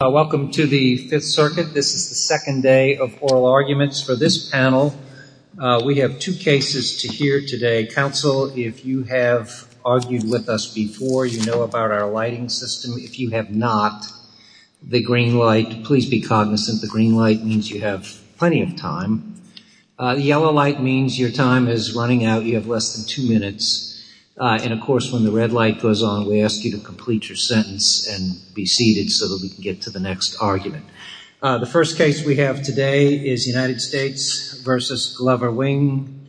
Welcome to the Fifth Circuit. This is the second day of oral arguments for this panel. We have two cases to hear today. Counsel, if you have argued with us before, you know about our lighting system. If you have not, the green light, please be cognizant. The green light means you have plenty of time. The yellow light means your time is running out. You have less than two minutes. And of course, when the red light goes on, we ask you to complete your sentence and be seated so that we can get to the next argument. The first case we have today is United States v. Glover-Wing,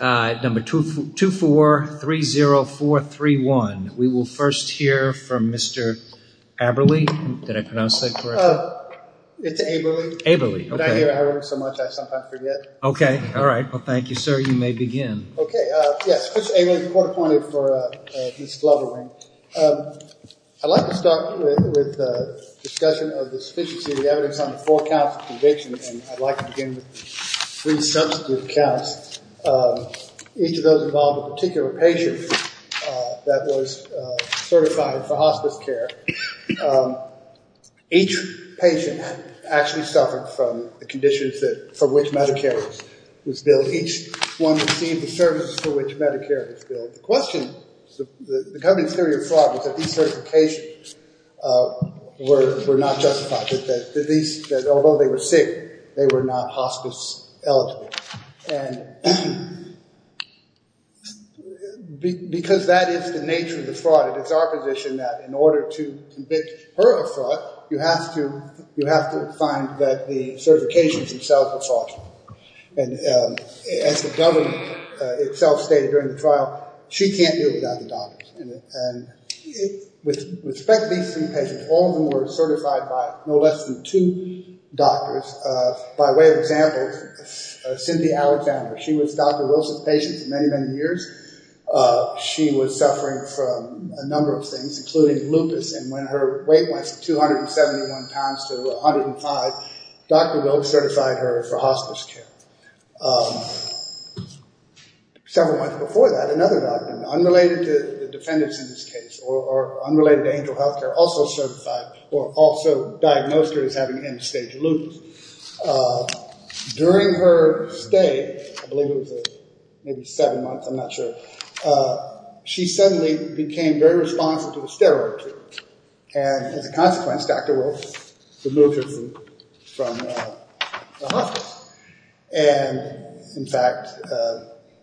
number 2430431. We will first hear from Mr. Aberle. Did I pronounce that correctly? It's Aberle. Aberle, okay. When I hear Aberle so much, I sometimes forget. Okay. All right. Well, thank you, sir. You may begin. Okay. Yes, Mr. Aberle, court appointed for Ms. Glover-Wing. I'd like to start with a discussion of the sufficiency of the evidence on the four counts of conviction, and I'd like to begin with the three substitute counts. Each of those involved a particular patient that was certified for hospice care. Each patient actually suffered from the conditions from which Medicare was billed. Each one received the services for which Medicare was billed. The question, the governing theory of fraud was that these certifications were not justified, that although they were sick, they were not hospice eligible. And because that is the nature of the fraud, it is our position that in order to convict her of fraud, you have to find that the certifications themselves were false. And as the government itself stated during the trial, she can't do without the doctors. And with respect to these three patients, all of them were certified by no less than two doctors. By way of example, Cynthia Alexander, she was Dr. Wilson's patient for many, many years. She was suffering from a number of things, including lupus, and when her weight went from 271 pounds to 105, Dr. Wilk certified her for hospice care. Several months before that, another doctor, unrelated to the defendants in this case, or unrelated to angel health care, also certified, or also diagnosed her as having end-stage lupus. During her stay, I believe it was maybe seven months, I'm not sure, she suddenly became very responsive to the steroid treatment. And as a consequence, Dr. Wilk removed her from hospice. And in fact,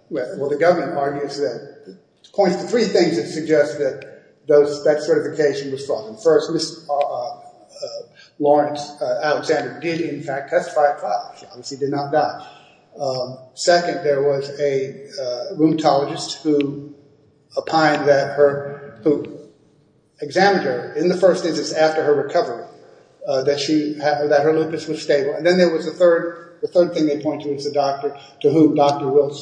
well, the government argues that, points to three things that suggest that that certification was false. First, Ms. Lawrence Alexander did in fact testify at trial. She obviously did not die. Second, there was a rheumatologist who opined that her, who examined her in the first instance after her recovery, that she, that her lupus was stable. And then there was a third, the third thing they point to was the doctor to whom Dr. Wilk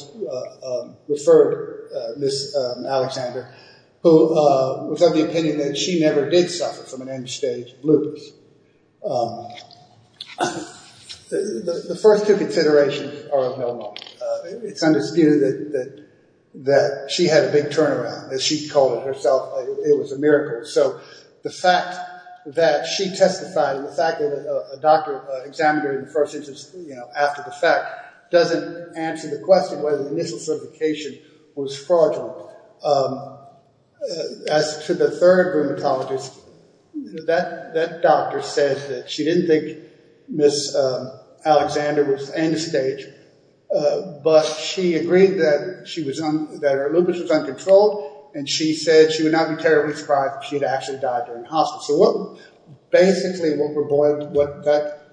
referred Ms. Alexander, who was of the opinion that she never did suffer from an end-stage lupus. The first two considerations are of no note. It's understood that she had a big turnaround, as she called it herself, it was a miracle. So the fact that she testified, and the fact that a doctor examined her in the first instance, you know, after the fact, doesn't answer the question whether the initial certification was fraudulent. As to the third rheumatologist, that doctor said that she didn't think Ms. Alexander was end-stage, but she agreed that she was, that her lupus was uncontrolled, and she said she would not be terribly surprised if she had actually died during hospice. So what, basically what that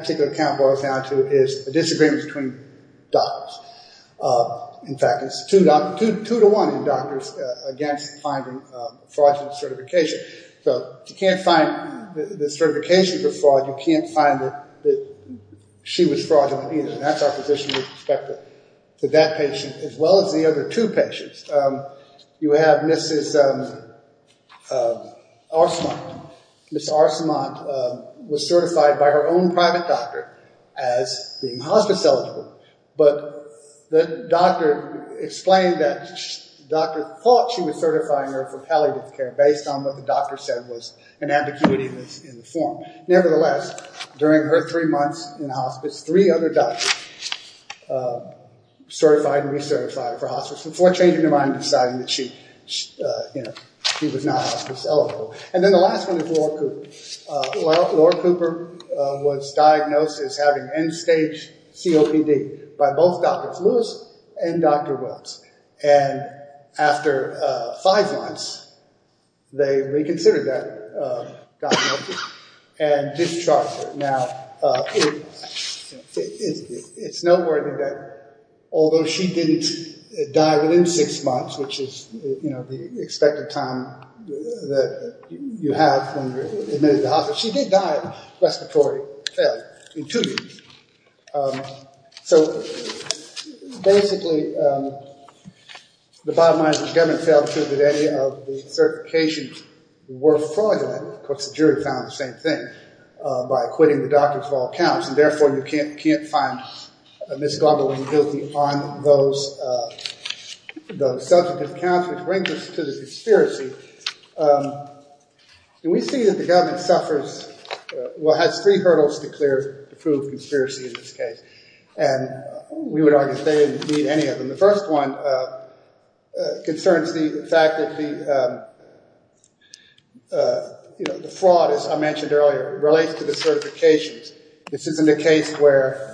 particular account boils down to is a disagreement between doctors. In fact, it's two to one in doctors against finding fraudulent certification. So if you can't find the certification for fraud, you can't find that she was fraudulent either. And that's our position with respect to that patient, as well as the other two patients. You have Mrs. Arcemont. Ms. Arcemont was certified by her own private doctor as being hospice-eligible, but the doctor explained that the doctor thought she was certifying her for palliative care based on what the doctor said was an ambiguity in the form. Nevertheless, during her three months in hospice, three other doctors certified and recertified her for hospice before changing their mind and deciding that she, you know, she was not hospice-eligible. And then the last one is Laura Cooper. Laura Cooper was diagnosed as having end-stage COPD by both Drs. Lewis and Dr. Wells. And after five months, they reconsidered that diagnosis and discharged her. Now, it's noteworthy that although she didn't die within six months, which is, you know, the expected time that you have when you're admitted to hospice, she did die of respiratory failure in two weeks. So basically, the bottom line is that the government failed to prove that any of the certifications were fraudulent. Of course, the jury found the same thing by acquitting the doctors of all counts, and therefore you can't find Ms. Gobley guilty on those substantive counts, which brings us to the conspiracy. We see that the government suffers, well, has three hurdles to clear to prove conspiracy in this case. And we would argue they didn't need any of them. The first one concerns the fact that the, you know, the fraud, as I mentioned earlier, relates to the certifications. This isn't a case where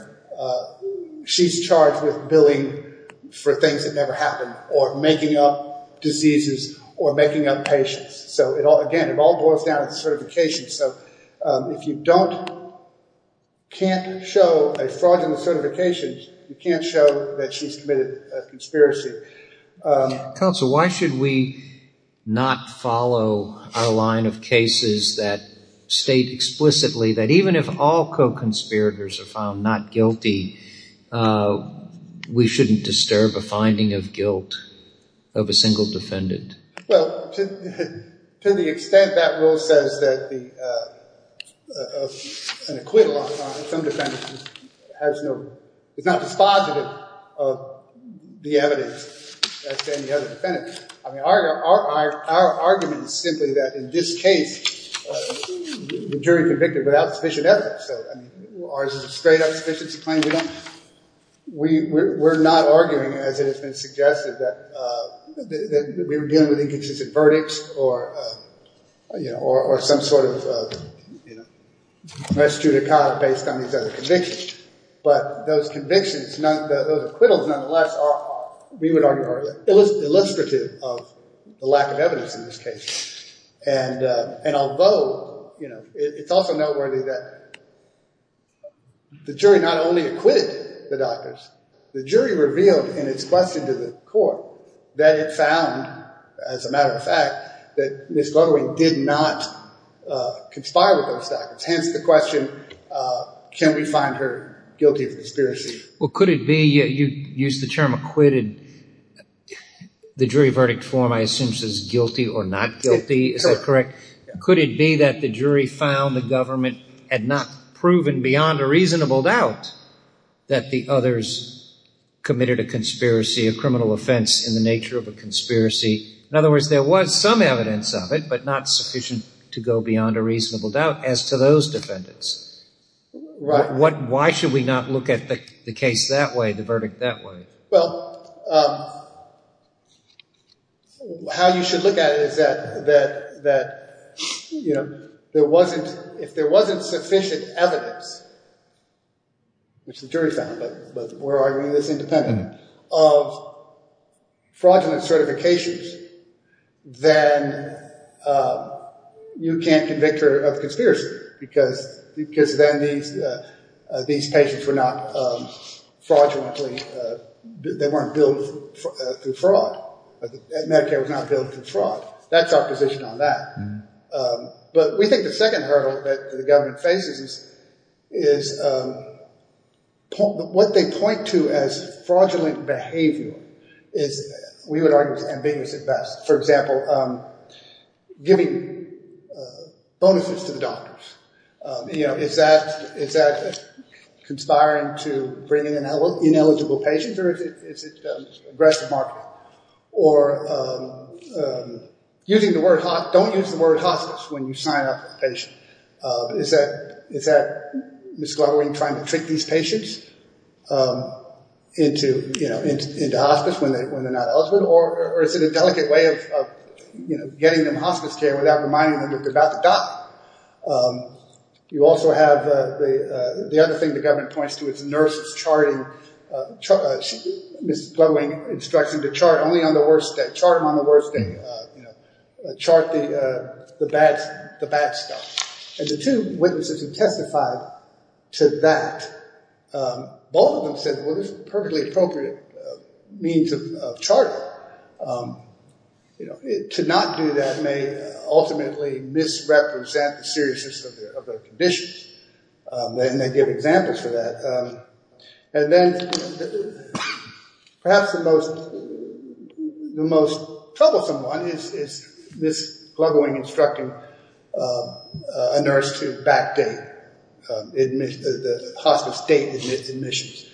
she's charged with billing for things that never happen or making up diseases or making up patients. So, again, it all boils down to certifications. So if you don't, can't show a fraudulent certification, you can't show that she's committed a conspiracy. Counsel, why should we not follow our line of cases that state explicitly that even if all co-conspirators are found not guilty, we shouldn't disturb a finding of guilt of a single defendant? Well, to the extent that rule says that an acquittal on some defendants has no, is not dispositive of the evidence against any other defendant, I mean, our argument is simply that in this case, the jury convicted without sufficient evidence. So, I mean, ours is a straight-up sufficiency claim. We don't, we're not arguing, as it has been suggested, that we were dealing with inconsistent verdicts or, you know, or some sort of, you know, res judicata based on these other convictions. But those convictions, those acquittals, nonetheless, are, we would argue, are illustrative of the lack of evidence in this case. And although, you know, it's also noteworthy that the jury not only acquitted the doctors, the jury revealed in its question to the court that it found, as a matter of fact, that Ms. Ludewig did not conspire with those doctors, hence the question, can we find her guilty of conspiracy? Well, could it be, you used the term acquitted, the jury verdict form, I assume, says guilty or not guilty, is that correct? Could it be that the jury found the government had not proven beyond a reasonable doubt that the others committed a conspiracy, a criminal offense in the nature of a conspiracy? In other words, there was some evidence of it, but not sufficient to go beyond a reasonable doubt as to those defendants. Why should we not look at the case that way, the verdict that way? Well, how you should look at it is that, you know, there wasn't, if there wasn't sufficient evidence, which the jury found, but we're arguing it's independent, of fraudulent certifications, then you can't convict her of conspiracy because then these patients were not fraudulently, they weren't billed through fraud, Medicare was not billed through fraud. That's our position on that. But we think the second hurdle that the government faces is what they point to as fraudulent behavior is, we would argue, is ambiguous at best. For example, giving bonuses to the doctors. You know, is that conspiring to bring in ineligible patients or is it aggressive marketing? Or using the word, don't use the word hospice when you sign up a patient. Is that, is that Ms. Glugwing trying to trick these patients into, you know, into hospice when they're not eligible? Or is it a delicate way of, you know, getting them hospice care without reminding them that they're about to die? You also have the other thing the government points to is nurses charting, Ms. Glugwing instructs them to chart only on the worst day, you know, chart the bad stuff. And the two witnesses who testified to that, both of them said, well, this is a perfectly appropriate means of charting. You know, to not do that may ultimately misrepresent the seriousness of their conditions. And they give examples for that. And then perhaps the most, the most troublesome one is Ms. Glugwing instructing a nurse to backdate the hospice date of admissions.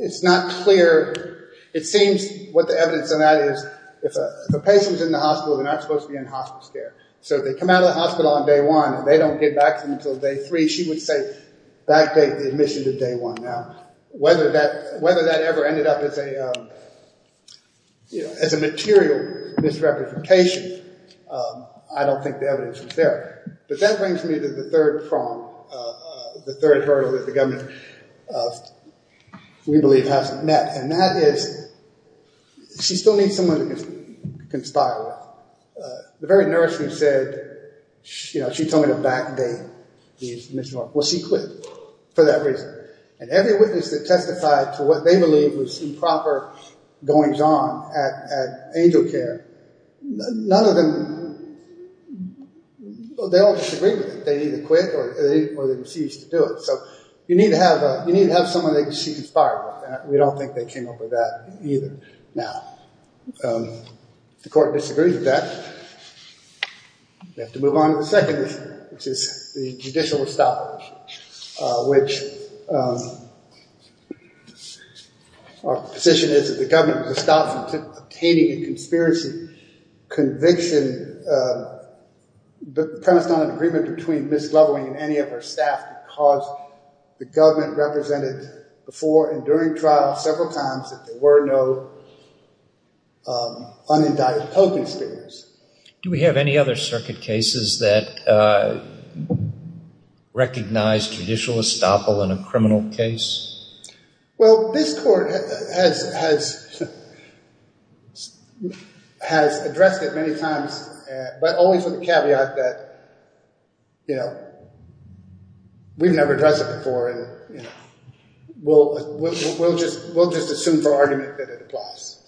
It's not clear, it seems what the evidence on that is, if a patient's in the hospital, they're not supposed to be in hospice care. So if they come out of the hospital on day one and they don't get back until day three, she would say backdate the admission to day one. Now, whether that, whether that ever ended up as a, you know, as a material misrepresentation, I don't think the evidence was there. But that brings me to the third problem, the third hurdle that the government, we believe, hasn't met. And that is, she still needs someone to conspire with. The very nurse who said, you know, she told me to backdate these admissions, well, she quit for that reason. And every witness that testified to what they believe was improper goings-on at angel care, none of them, they all disagreed with it. They either quit or they refused to do it. So you need to have a, you need to have someone that you can conspire with. And we don't think they came up with that either. Now, if the court disagrees with that, we have to move on to the second issue, which is the judicial establishment, which our position is that the government was stopped from obtaining a conspiracy conviction. The premise is not an agreement between Ms. Loveling and any of her staff, because the government represented before and during trial several times that there were no unindicted co-conspirators. Do we have any other circuit cases that recognize judicial estoppel in a criminal case? Well, this court has addressed it many times, but only for the caveat that, you know, we've never addressed it before, and we'll just assume for argument that it applies.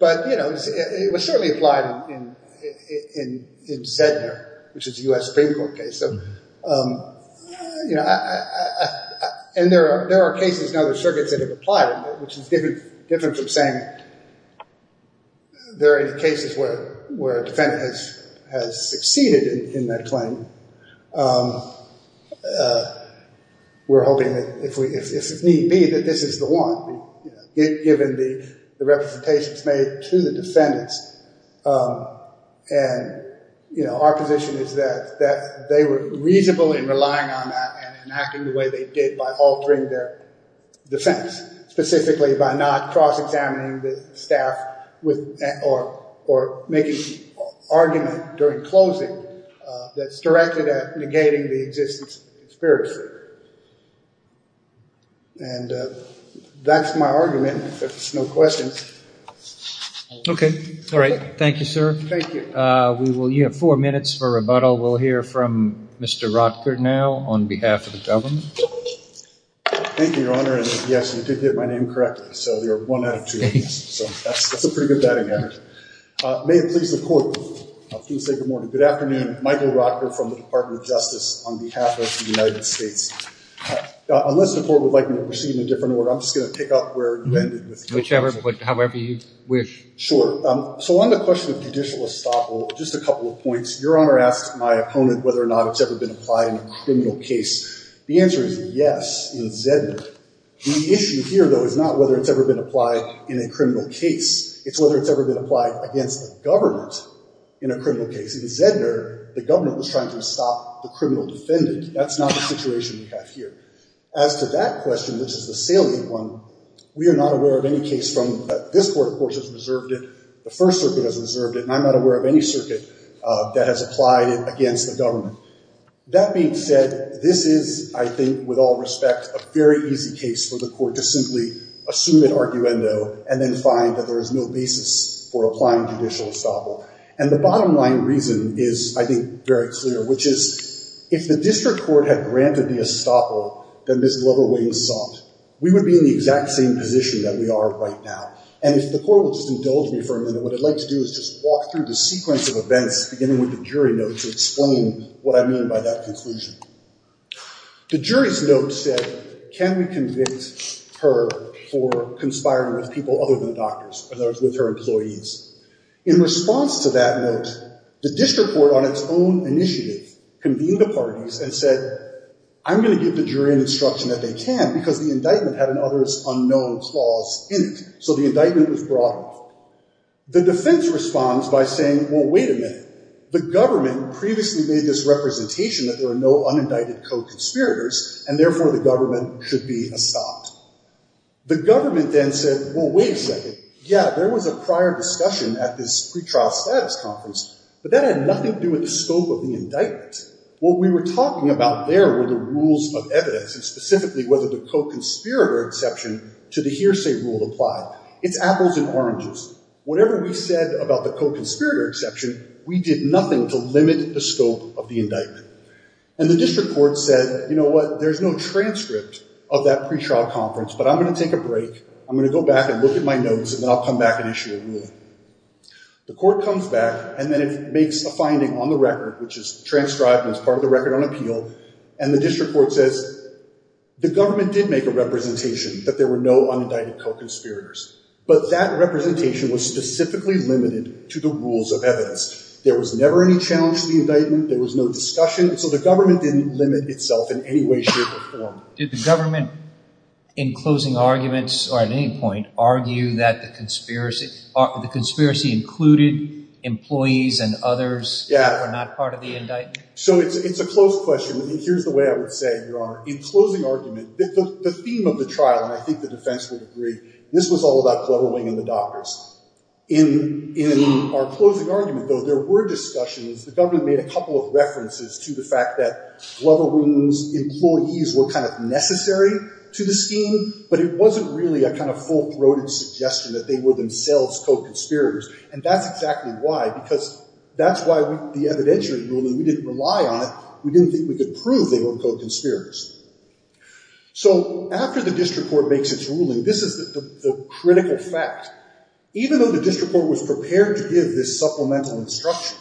But, you know, it was certainly applied in Zedner, which is a U.S. Supreme Court case. So, you know, and there are cases in other circuits that have applied it, which is different from saying there are any cases where a defendant has succeeded in that claim. We're hoping that if need be, that this is the one, given the representations made to the defendants. And, you know, our position is that they were reasonable in relying on that and acting the way they did by altering their defense, specifically by not cross-examining the staff or making argument during closing that's directed at negating the existence of the conspiracy. And that's my argument, if there's no questions. Okay. All right. Thank you, sir. Thank you. We will, you have four minutes for rebuttal. We'll hear from Mr. Rotker now on behalf of the government. Thank you, Your Honor, and yes, you did get my name correctly, so you're one out of two. So that's a pretty good batting average. May it please the court, please say good morning. Good afternoon. Michael Rotker from the Department of Justice on behalf of the United States. Unless the court would like me to proceed in a different order, I'm just going to pick up where you ended. Whichever, however you wish. Sure. So on the question of judicial estoppel, just a couple of points. Your Honor asked my opponent whether or not it's ever been applied in a criminal case. The answer is yes, in Zedner. The issue here, though, is not whether it's ever been applied in a criminal case. It's whether it's ever been applied against the government in a criminal case. In Zedner, the government was trying to stop the criminal defendant. That's not the situation we have here. As to that question, which is the salient one, we are not aware of any case from this court, of course, has reserved it. The First Circuit has reserved it, and I'm not aware of any circuit that has applied it against the government. That being said, this is, I think, with all respect, a very easy case for the court to simply assume an arguendo and then find that there is no basis for applying judicial estoppel. And the bottom line reason is, I think, very clear, which is if the district court had granted the estoppel that Ms. Glover-Wayne sought, we would be in the exact same position that we are right now. And if the court will just indulge me for a minute, what I'd like to do is just walk through the sequence of events, beginning with the jury notes, and explain what I mean by that conclusion. The jury's notes said, can we convict her for conspiring with people other than doctors, in other words, with her employees? In response to that note, the district court, on its own initiative, convened the parties and said, I'm going to give the jury an instruction that they can, because the indictment had an other's unknown clause in it. So the indictment was brought off. The defense responds by saying, well, wait a minute. The government previously made this representation that there are no unindicted co-conspirators, and therefore the government should be estopped. The government then said, well, wait a second. Yeah, there was a prior discussion at this pretrial status conference, but that had nothing to do with the scope of the indictment. What we were talking about there were the rules of evidence, and specifically whether the co-conspirator exception to the hearsay rule applied. It's apples and oranges. Whatever we said about the co-conspirator exception, we did nothing to limit the scope of the indictment. And the district court said, you know what? There's no transcript of that pretrial conference, but I'm going to take a break. I'm going to go back and look at my notes, and then I'll come back and issue a ruling. The court comes back, and then it makes a finding on the record, which is transcribed and is part of the record on appeal, and the district court says the government did make a representation that there were no unindicted co-conspirators, but that representation was specifically limited to the rules of evidence. There was never any challenge to the indictment. There was no discussion. So the government didn't limit itself in any way, shape, or form. Did the government, in closing arguments or at any point, argue that the conspiracy included employees and others that were not part of the indictment? So it's a close question. Here's the way I would say, Your Honor. In closing argument, the theme of the trial, and I think the defense would agree, this was all about Glover Wing and the doctors. In our closing argument, though, there were discussions. The government made a couple of references to the fact that Glover Wing's employees were kind of necessary to the scheme, but it wasn't really a kind of full-throated suggestion that they were themselves co-conspirators, and that's exactly why, because that's why the evidentiary ruling, we didn't rely on it. We didn't think we could prove they were co-conspirators. So after the district court makes its ruling, this is the critical fact. Even though the district court was prepared to give this supplemental instruction,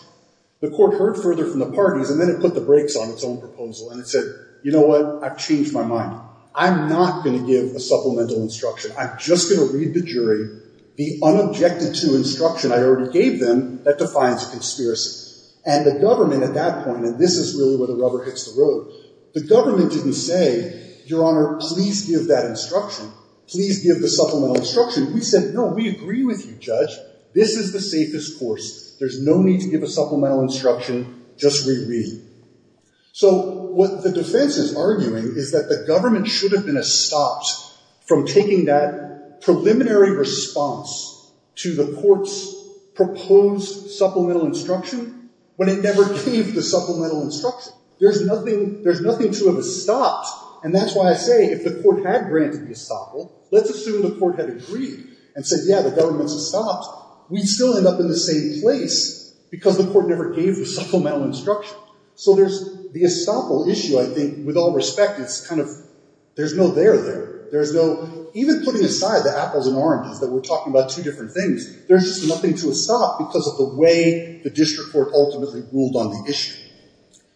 the court heard further from the parties, and then it put the brakes on its own proposal, and it said, you know what, I've changed my mind. I'm not going to give a supplemental instruction. I'm just going to read the jury the unobjected-to instruction I already gave them that defines a conspiracy, and the government at that point, and this is really where the rubber hits the road, the government didn't say, Your Honor, please give that instruction. Please give the supplemental instruction. We said, no, we agree with you, Judge. This is the safest course. There's no need to give a supplemental instruction. Just reread. So what the defense is arguing is that the government should have been estopped from taking that preliminary response to the court's proposed supplemental instruction when it never gave the supplemental instruction. There's nothing to have estopped, and that's why I say if the court had granted the estoppel, let's assume the court had agreed and said, Yeah, the government's estopped. We'd still end up in the same place because the court never gave the supplemental instruction. So there's the estoppel issue, I think, with all respect. It's kind of there's no there there. Even putting aside the apples and oranges that we're talking about two different things, there's just nothing to estop because of the way the district court ultimately ruled on the issue.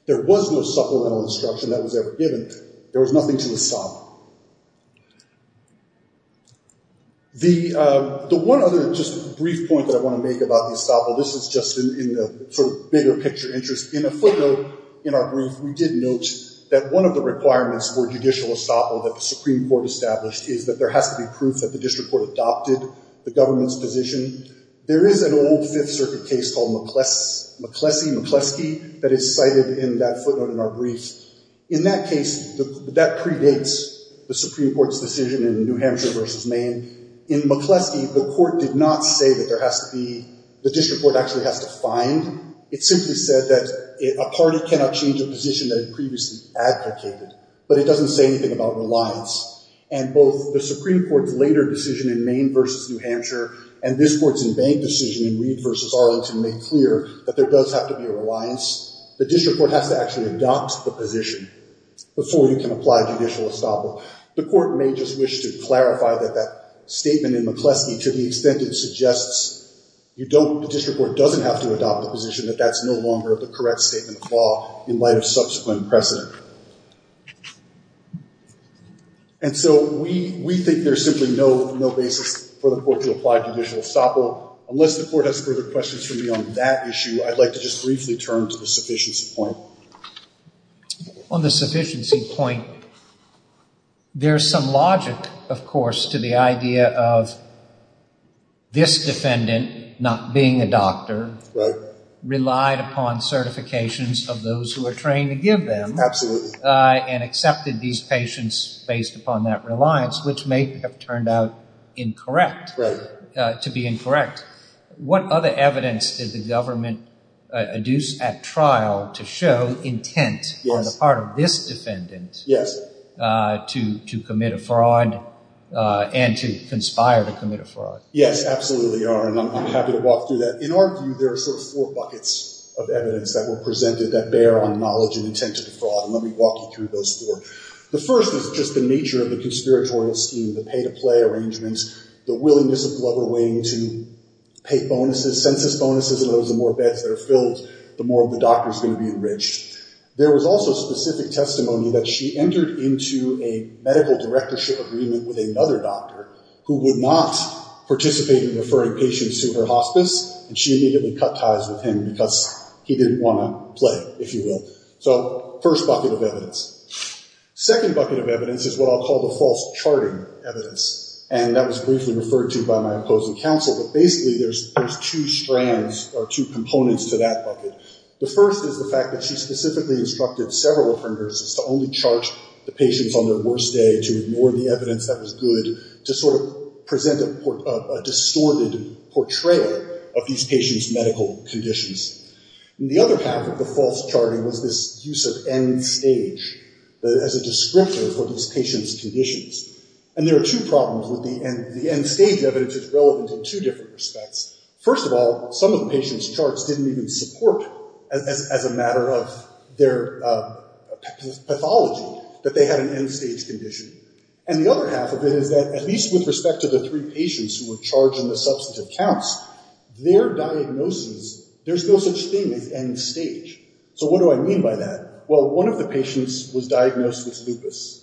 There was no supplemental instruction that was ever given. There was nothing to estop. The one other just brief point that I want to make about the estoppel, this is just in the sort of bigger picture interest. In a footnote in our brief, we did note that one of the requirements for judicial estoppel that the Supreme Court established is that there has to be proof that the district court adopted the government's position. There is an old Fifth Circuit case called McCleskey that is cited in that footnote in our brief. In that case, that predates the Supreme Court's decision in New Hampshire versus Maine. In McCleskey, the court did not say that there has to be, the district court actually has to find. It simply said that a party cannot change a position that it previously advocated. But it doesn't say anything about reliance. And both the Supreme Court's later decision in Maine versus New Hampshire and this court's in Maine decision in Reed versus Arlington make clear that there does have to be a reliance. The district court has to actually adopt the position before you can apply judicial estoppel. The court may just wish to clarify that that statement in McCleskey to the extent it suggests the district court doesn't have to adopt the position, that that's no longer the correct statement of law in light of subsequent precedent. And so we think there's simply no basis for the court to apply judicial estoppel. Unless the court has further questions for me on that issue, I'd like to just briefly turn to the sufficiency point. On the sufficiency point, there's some logic, of course, to the idea of this defendant not being a doctor relied upon certifications of those who are trained to give them. Absolutely. And accepted these patients based upon that reliance, which may have turned out incorrect, to be incorrect. What other evidence did the government adduce at trial to show intent on the part of this defendant to commit a fraud and to conspire to commit a fraud? Yes, absolutely. And I'm happy to walk through that. In our view, there are sort of four buckets of evidence that were presented that bear on knowledge and intent to defraud. And let me walk you through those four. The first is just the nature of the conspiratorial scheme, the pay to play arrangements, the willingness of Glover Wing to pay bonuses, census bonuses. And the more beds that are filled, the more of the doctor's going to be enriched. There was also specific testimony that she entered into a medical directorship agreement with another doctor who would not participate in referring patients to her hospice. And she immediately cut ties with him because he didn't want to play, if you will. So first bucket of evidence. Second bucket of evidence is what I'll call the false charting evidence. And that was briefly referred to by my opposing counsel. But basically, there's two strands or two components to that bucket. The first is the fact that she specifically instructed several of her nurses to only chart the patients on their worst day, to ignore the evidence that was good, to sort of present a distorted portrayal of these patients' medical conditions. And the other half of the false charting was this use of end stage as a descriptor for these patients' conditions. And there are two problems with the end stage evidence that's relevant in two different respects. First of all, some of the patients' charts didn't even support, as a matter of their pathology, that they had an end stage condition. And the other half of it is that, at least with respect to the three patients who were charged on the substantive counts, their diagnosis, there's no such thing as end stage. So what do I mean by that? Well, one of the patients was diagnosed with lupus.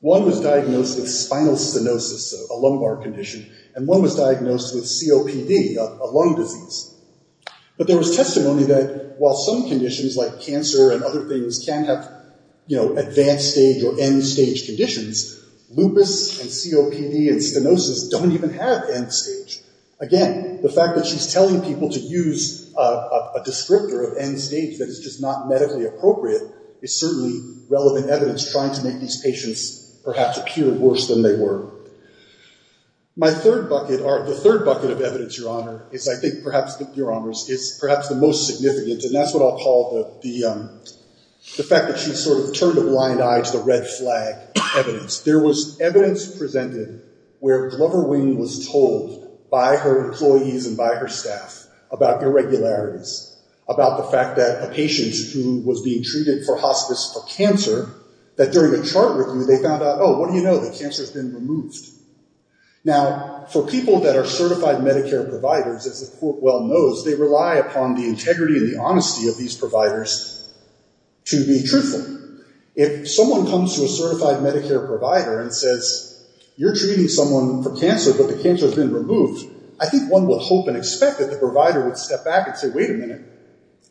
One was diagnosed with spinal stenosis, a lumbar condition. And one was diagnosed with COPD, a lung disease. But there was testimony that, while some conditions, like cancer and other things, can have advanced stage or end stage conditions, lupus and COPD and stenosis don't even have end stage. Again, the fact that she's telling people to use a descriptor of end stage that is just not medically appropriate is certainly relevant evidence trying to make these patients perhaps appear worse than they were. My third bucket, or the third bucket of evidence, Your Honor, is, I think, perhaps, Your Honors, is perhaps the most significant. And that's what I'll call the fact that she sort of turned a blind eye to the red flag evidence. There was evidence presented where Glover Wing was told by her employees and by her staff about irregularities, about the fact that a patient who was being treated for hospice for cancer, that during a chart review, they found out, oh, what do you know? The cancer's been removed. Now, for people that are certified Medicare providers, as the court well knows, they rely upon the integrity and the honesty of these providers to be truthful. If someone comes to a certified Medicare provider and says, you're treating someone for cancer, but the cancer's been removed, I think one would hope and expect that the provider would step back and say, wait a minute.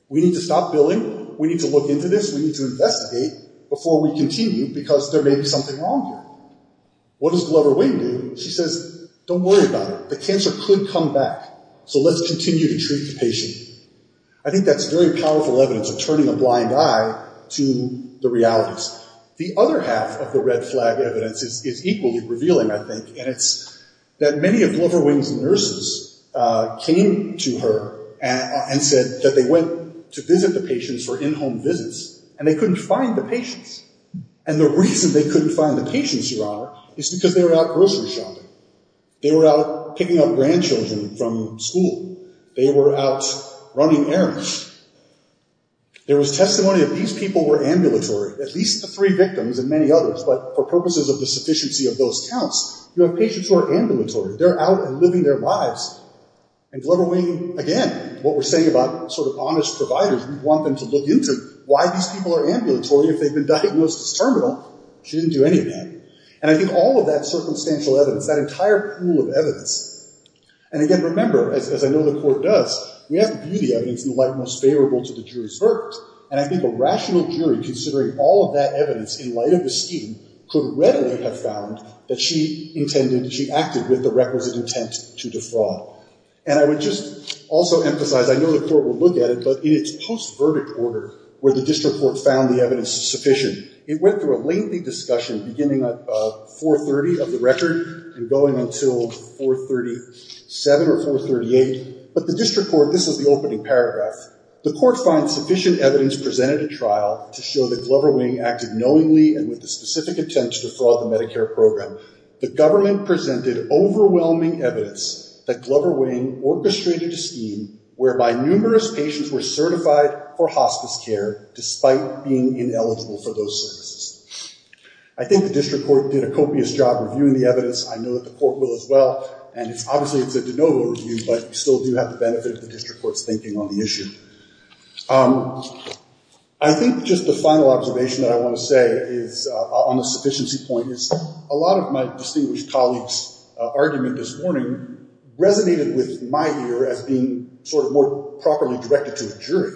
We need to stop billing. We need to look into this. We need to investigate before we continue because there may be something wrong here. What does Glover Wing do? She says, don't worry about it. The cancer could come back. So let's continue to treat the patient. I think that's very powerful evidence of turning a blind eye to the realities. The other half of the red flag evidence is equally revealing, I think, and it's that many of Glover Wing's nurses came to her and said that they went to visit the patients for in-home visits, and they couldn't find the patients. And the reason they couldn't find the patients, Your Honor, is because they were out grocery shopping. They were out picking up grandchildren from school. They were out running errands. There was testimony that these people were ambulatory, at least the three victims and many others, but for purposes of the sufficiency of those counts, you have patients who are ambulatory. They're out and living their lives. And Glover Wing, again, what we're saying about sort of honest providers, we want them to look into why these people are ambulatory if they've been diagnosed as terminal. She didn't do any of that. And I think all of that circumstantial evidence, that entire pool of evidence, and again, remember, as I know the Court does, we have to view the evidence in the light most favorable to the jury's verdict. And I think a rational jury, considering all of that evidence in light of the scheme, could readily have found that she intended, she acted with the requisite intent to defraud. And I would just also emphasize, I know the Court will look at it, but in its post-verdict order, where the district court found the evidence sufficient, it went through a lengthy discussion beginning at 430 of the record and going until 437 or 438. But the district court, this is the opening paragraph, the court finds sufficient evidence presented at trial to show that Glover Wing acted knowingly and with the specific intent to defraud the Medicare program. The government presented overwhelming evidence that Glover Wing orchestrated a scheme whereby numerous patients were certified for hospice care despite being ineligible for those services. I think the district court did a copious job reviewing the evidence. I know that the Court will as well. And obviously, it's a de novo review, but you still do have the benefit of the district court's thinking on the issue. I think just the final observation that I want to say on the sufficiency point is a lot of my distinguished colleagues' argument this morning resonated with my ear as being sort of more properly directed to the jury,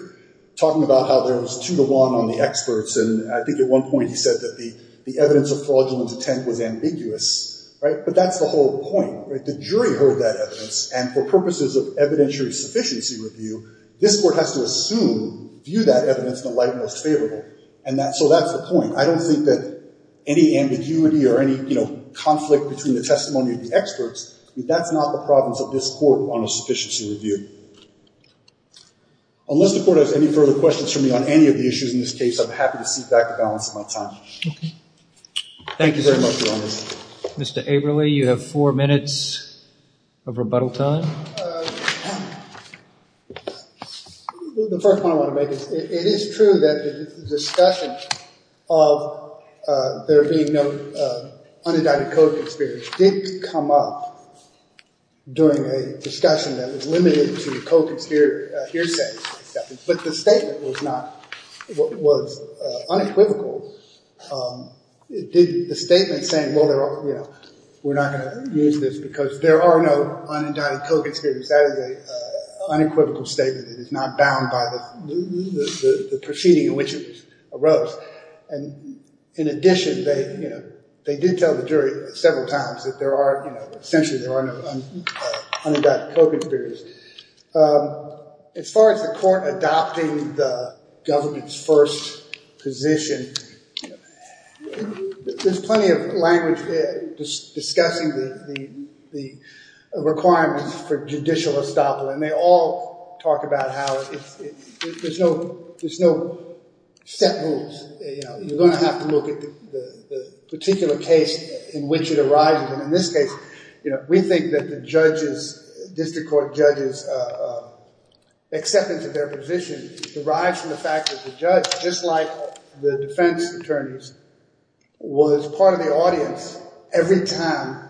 talking about how there was two to one on the experts. And I think at one point he said that the evidence of fraudulent intent was ambiguous. But that's the whole point. The jury heard that evidence, and for purposes of evidentiary sufficiency review, this Court has to assume, view that evidence in the light most favorable. So that's the point. I don't think that any ambiguity or any conflict between the testimony of the experts, that's not the problems of this Court on a sufficiency review. Unless the Court has any further questions for me on any of the issues in this case, I'm happy to cede back the balance of my time. Thank you very much, Your Honor. Mr. Averly, you have four minutes of rebuttal time. The first point I want to make is it is true that the discussion of there being no undecided co-conspirators did come up during a discussion that was limited to co-conspirator hearsay. But the statement was unequivocal. The statement saying, well, we're not going to use this because there are no undecided co-conspirators, that is an unequivocal statement. It is not bound by the proceeding in which it arose. And in addition, they did tell the jury several times that there are, essentially there are no undecided co-conspirators. As far as the Court adopting the government's first position, there's plenty of language discussing the requirements for judicial estoppel. And they all talk about how there's no set rules. You're going to have to look at the particular case in which it arises. And in this case, you know, we think that the judge's, district court judge's acceptance of their position derives from the fact that the judge, just like the defense attorneys, was part of the audience every time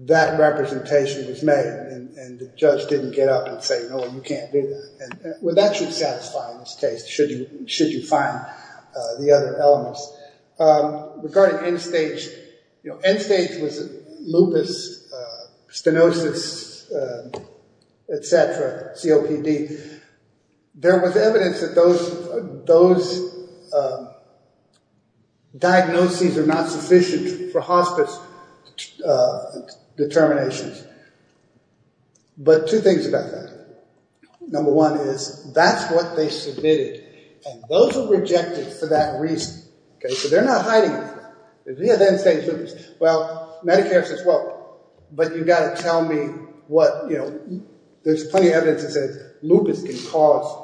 that representation was made. And the judge didn't get up and say, no, you can't do that. Well, that should satisfy in this case, should you find the other elements. Regarding end-stage, you know, end-stage was lupus, stenosis, et cetera, COPD. There was evidence that those diagnoses are not sufficient for hospice determinations. But two things about that. Number one is, that's what they submitted. And those are rejected for that reason. So they're not hiding it. Well, Medicare says, well, but you've got to tell me what, you know, there's plenty of evidence that says lupus can cause.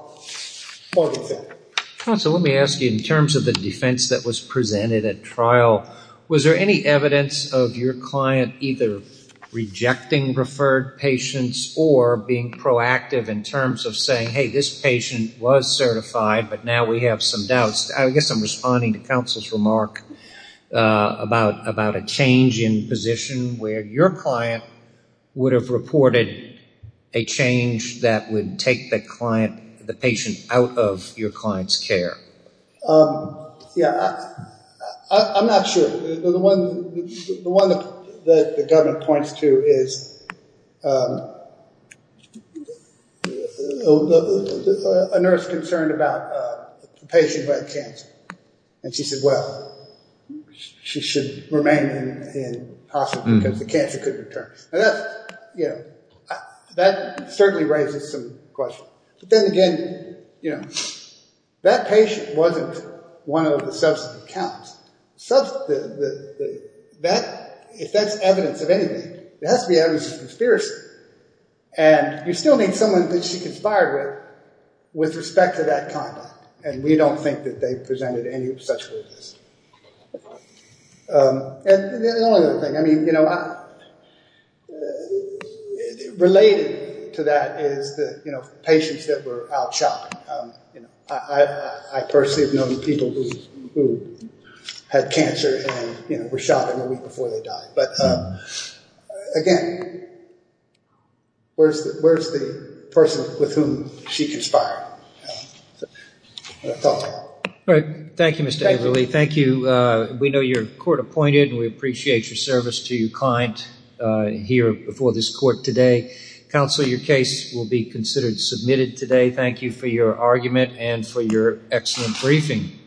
Counsel, let me ask you, in terms of the defense that was presented at trial, was there any evidence of your client either rejecting referred patients or being proactive in terms of saying, hey, this patient was certified, but now we have some doubts. I guess I'm responding to counsel's remark about a change in position where your client would have reported a change that would take the client, the patient out of your client's care. Yeah. I'm not sure. The one that the government points to is a nurse concerned about a patient who had cancer. And she said, well, she should remain in hospice because the cancer couldn't return. That certainly raises some questions. But then again, you know, that patient wasn't one of the substantive accounts. If that's evidence of anything, it has to be evidence of conspiracy. And you still need someone that she conspired with with respect to that conduct. And we don't think that they presented any such evidence. And the only other thing, I mean, you know, related to that is the, you know, patients that were out shopping. I personally have known people who had cancer and, you know, were shopping the week before they died. But again, where's the person with whom she conspired? All right. Thank you, Mr. Averill. Thank you. We know you're court appointed, and we appreciate your service to your client here before this court today. Counsel, your case will be considered submitted today. Thank you for your argument and for your excellent briefing.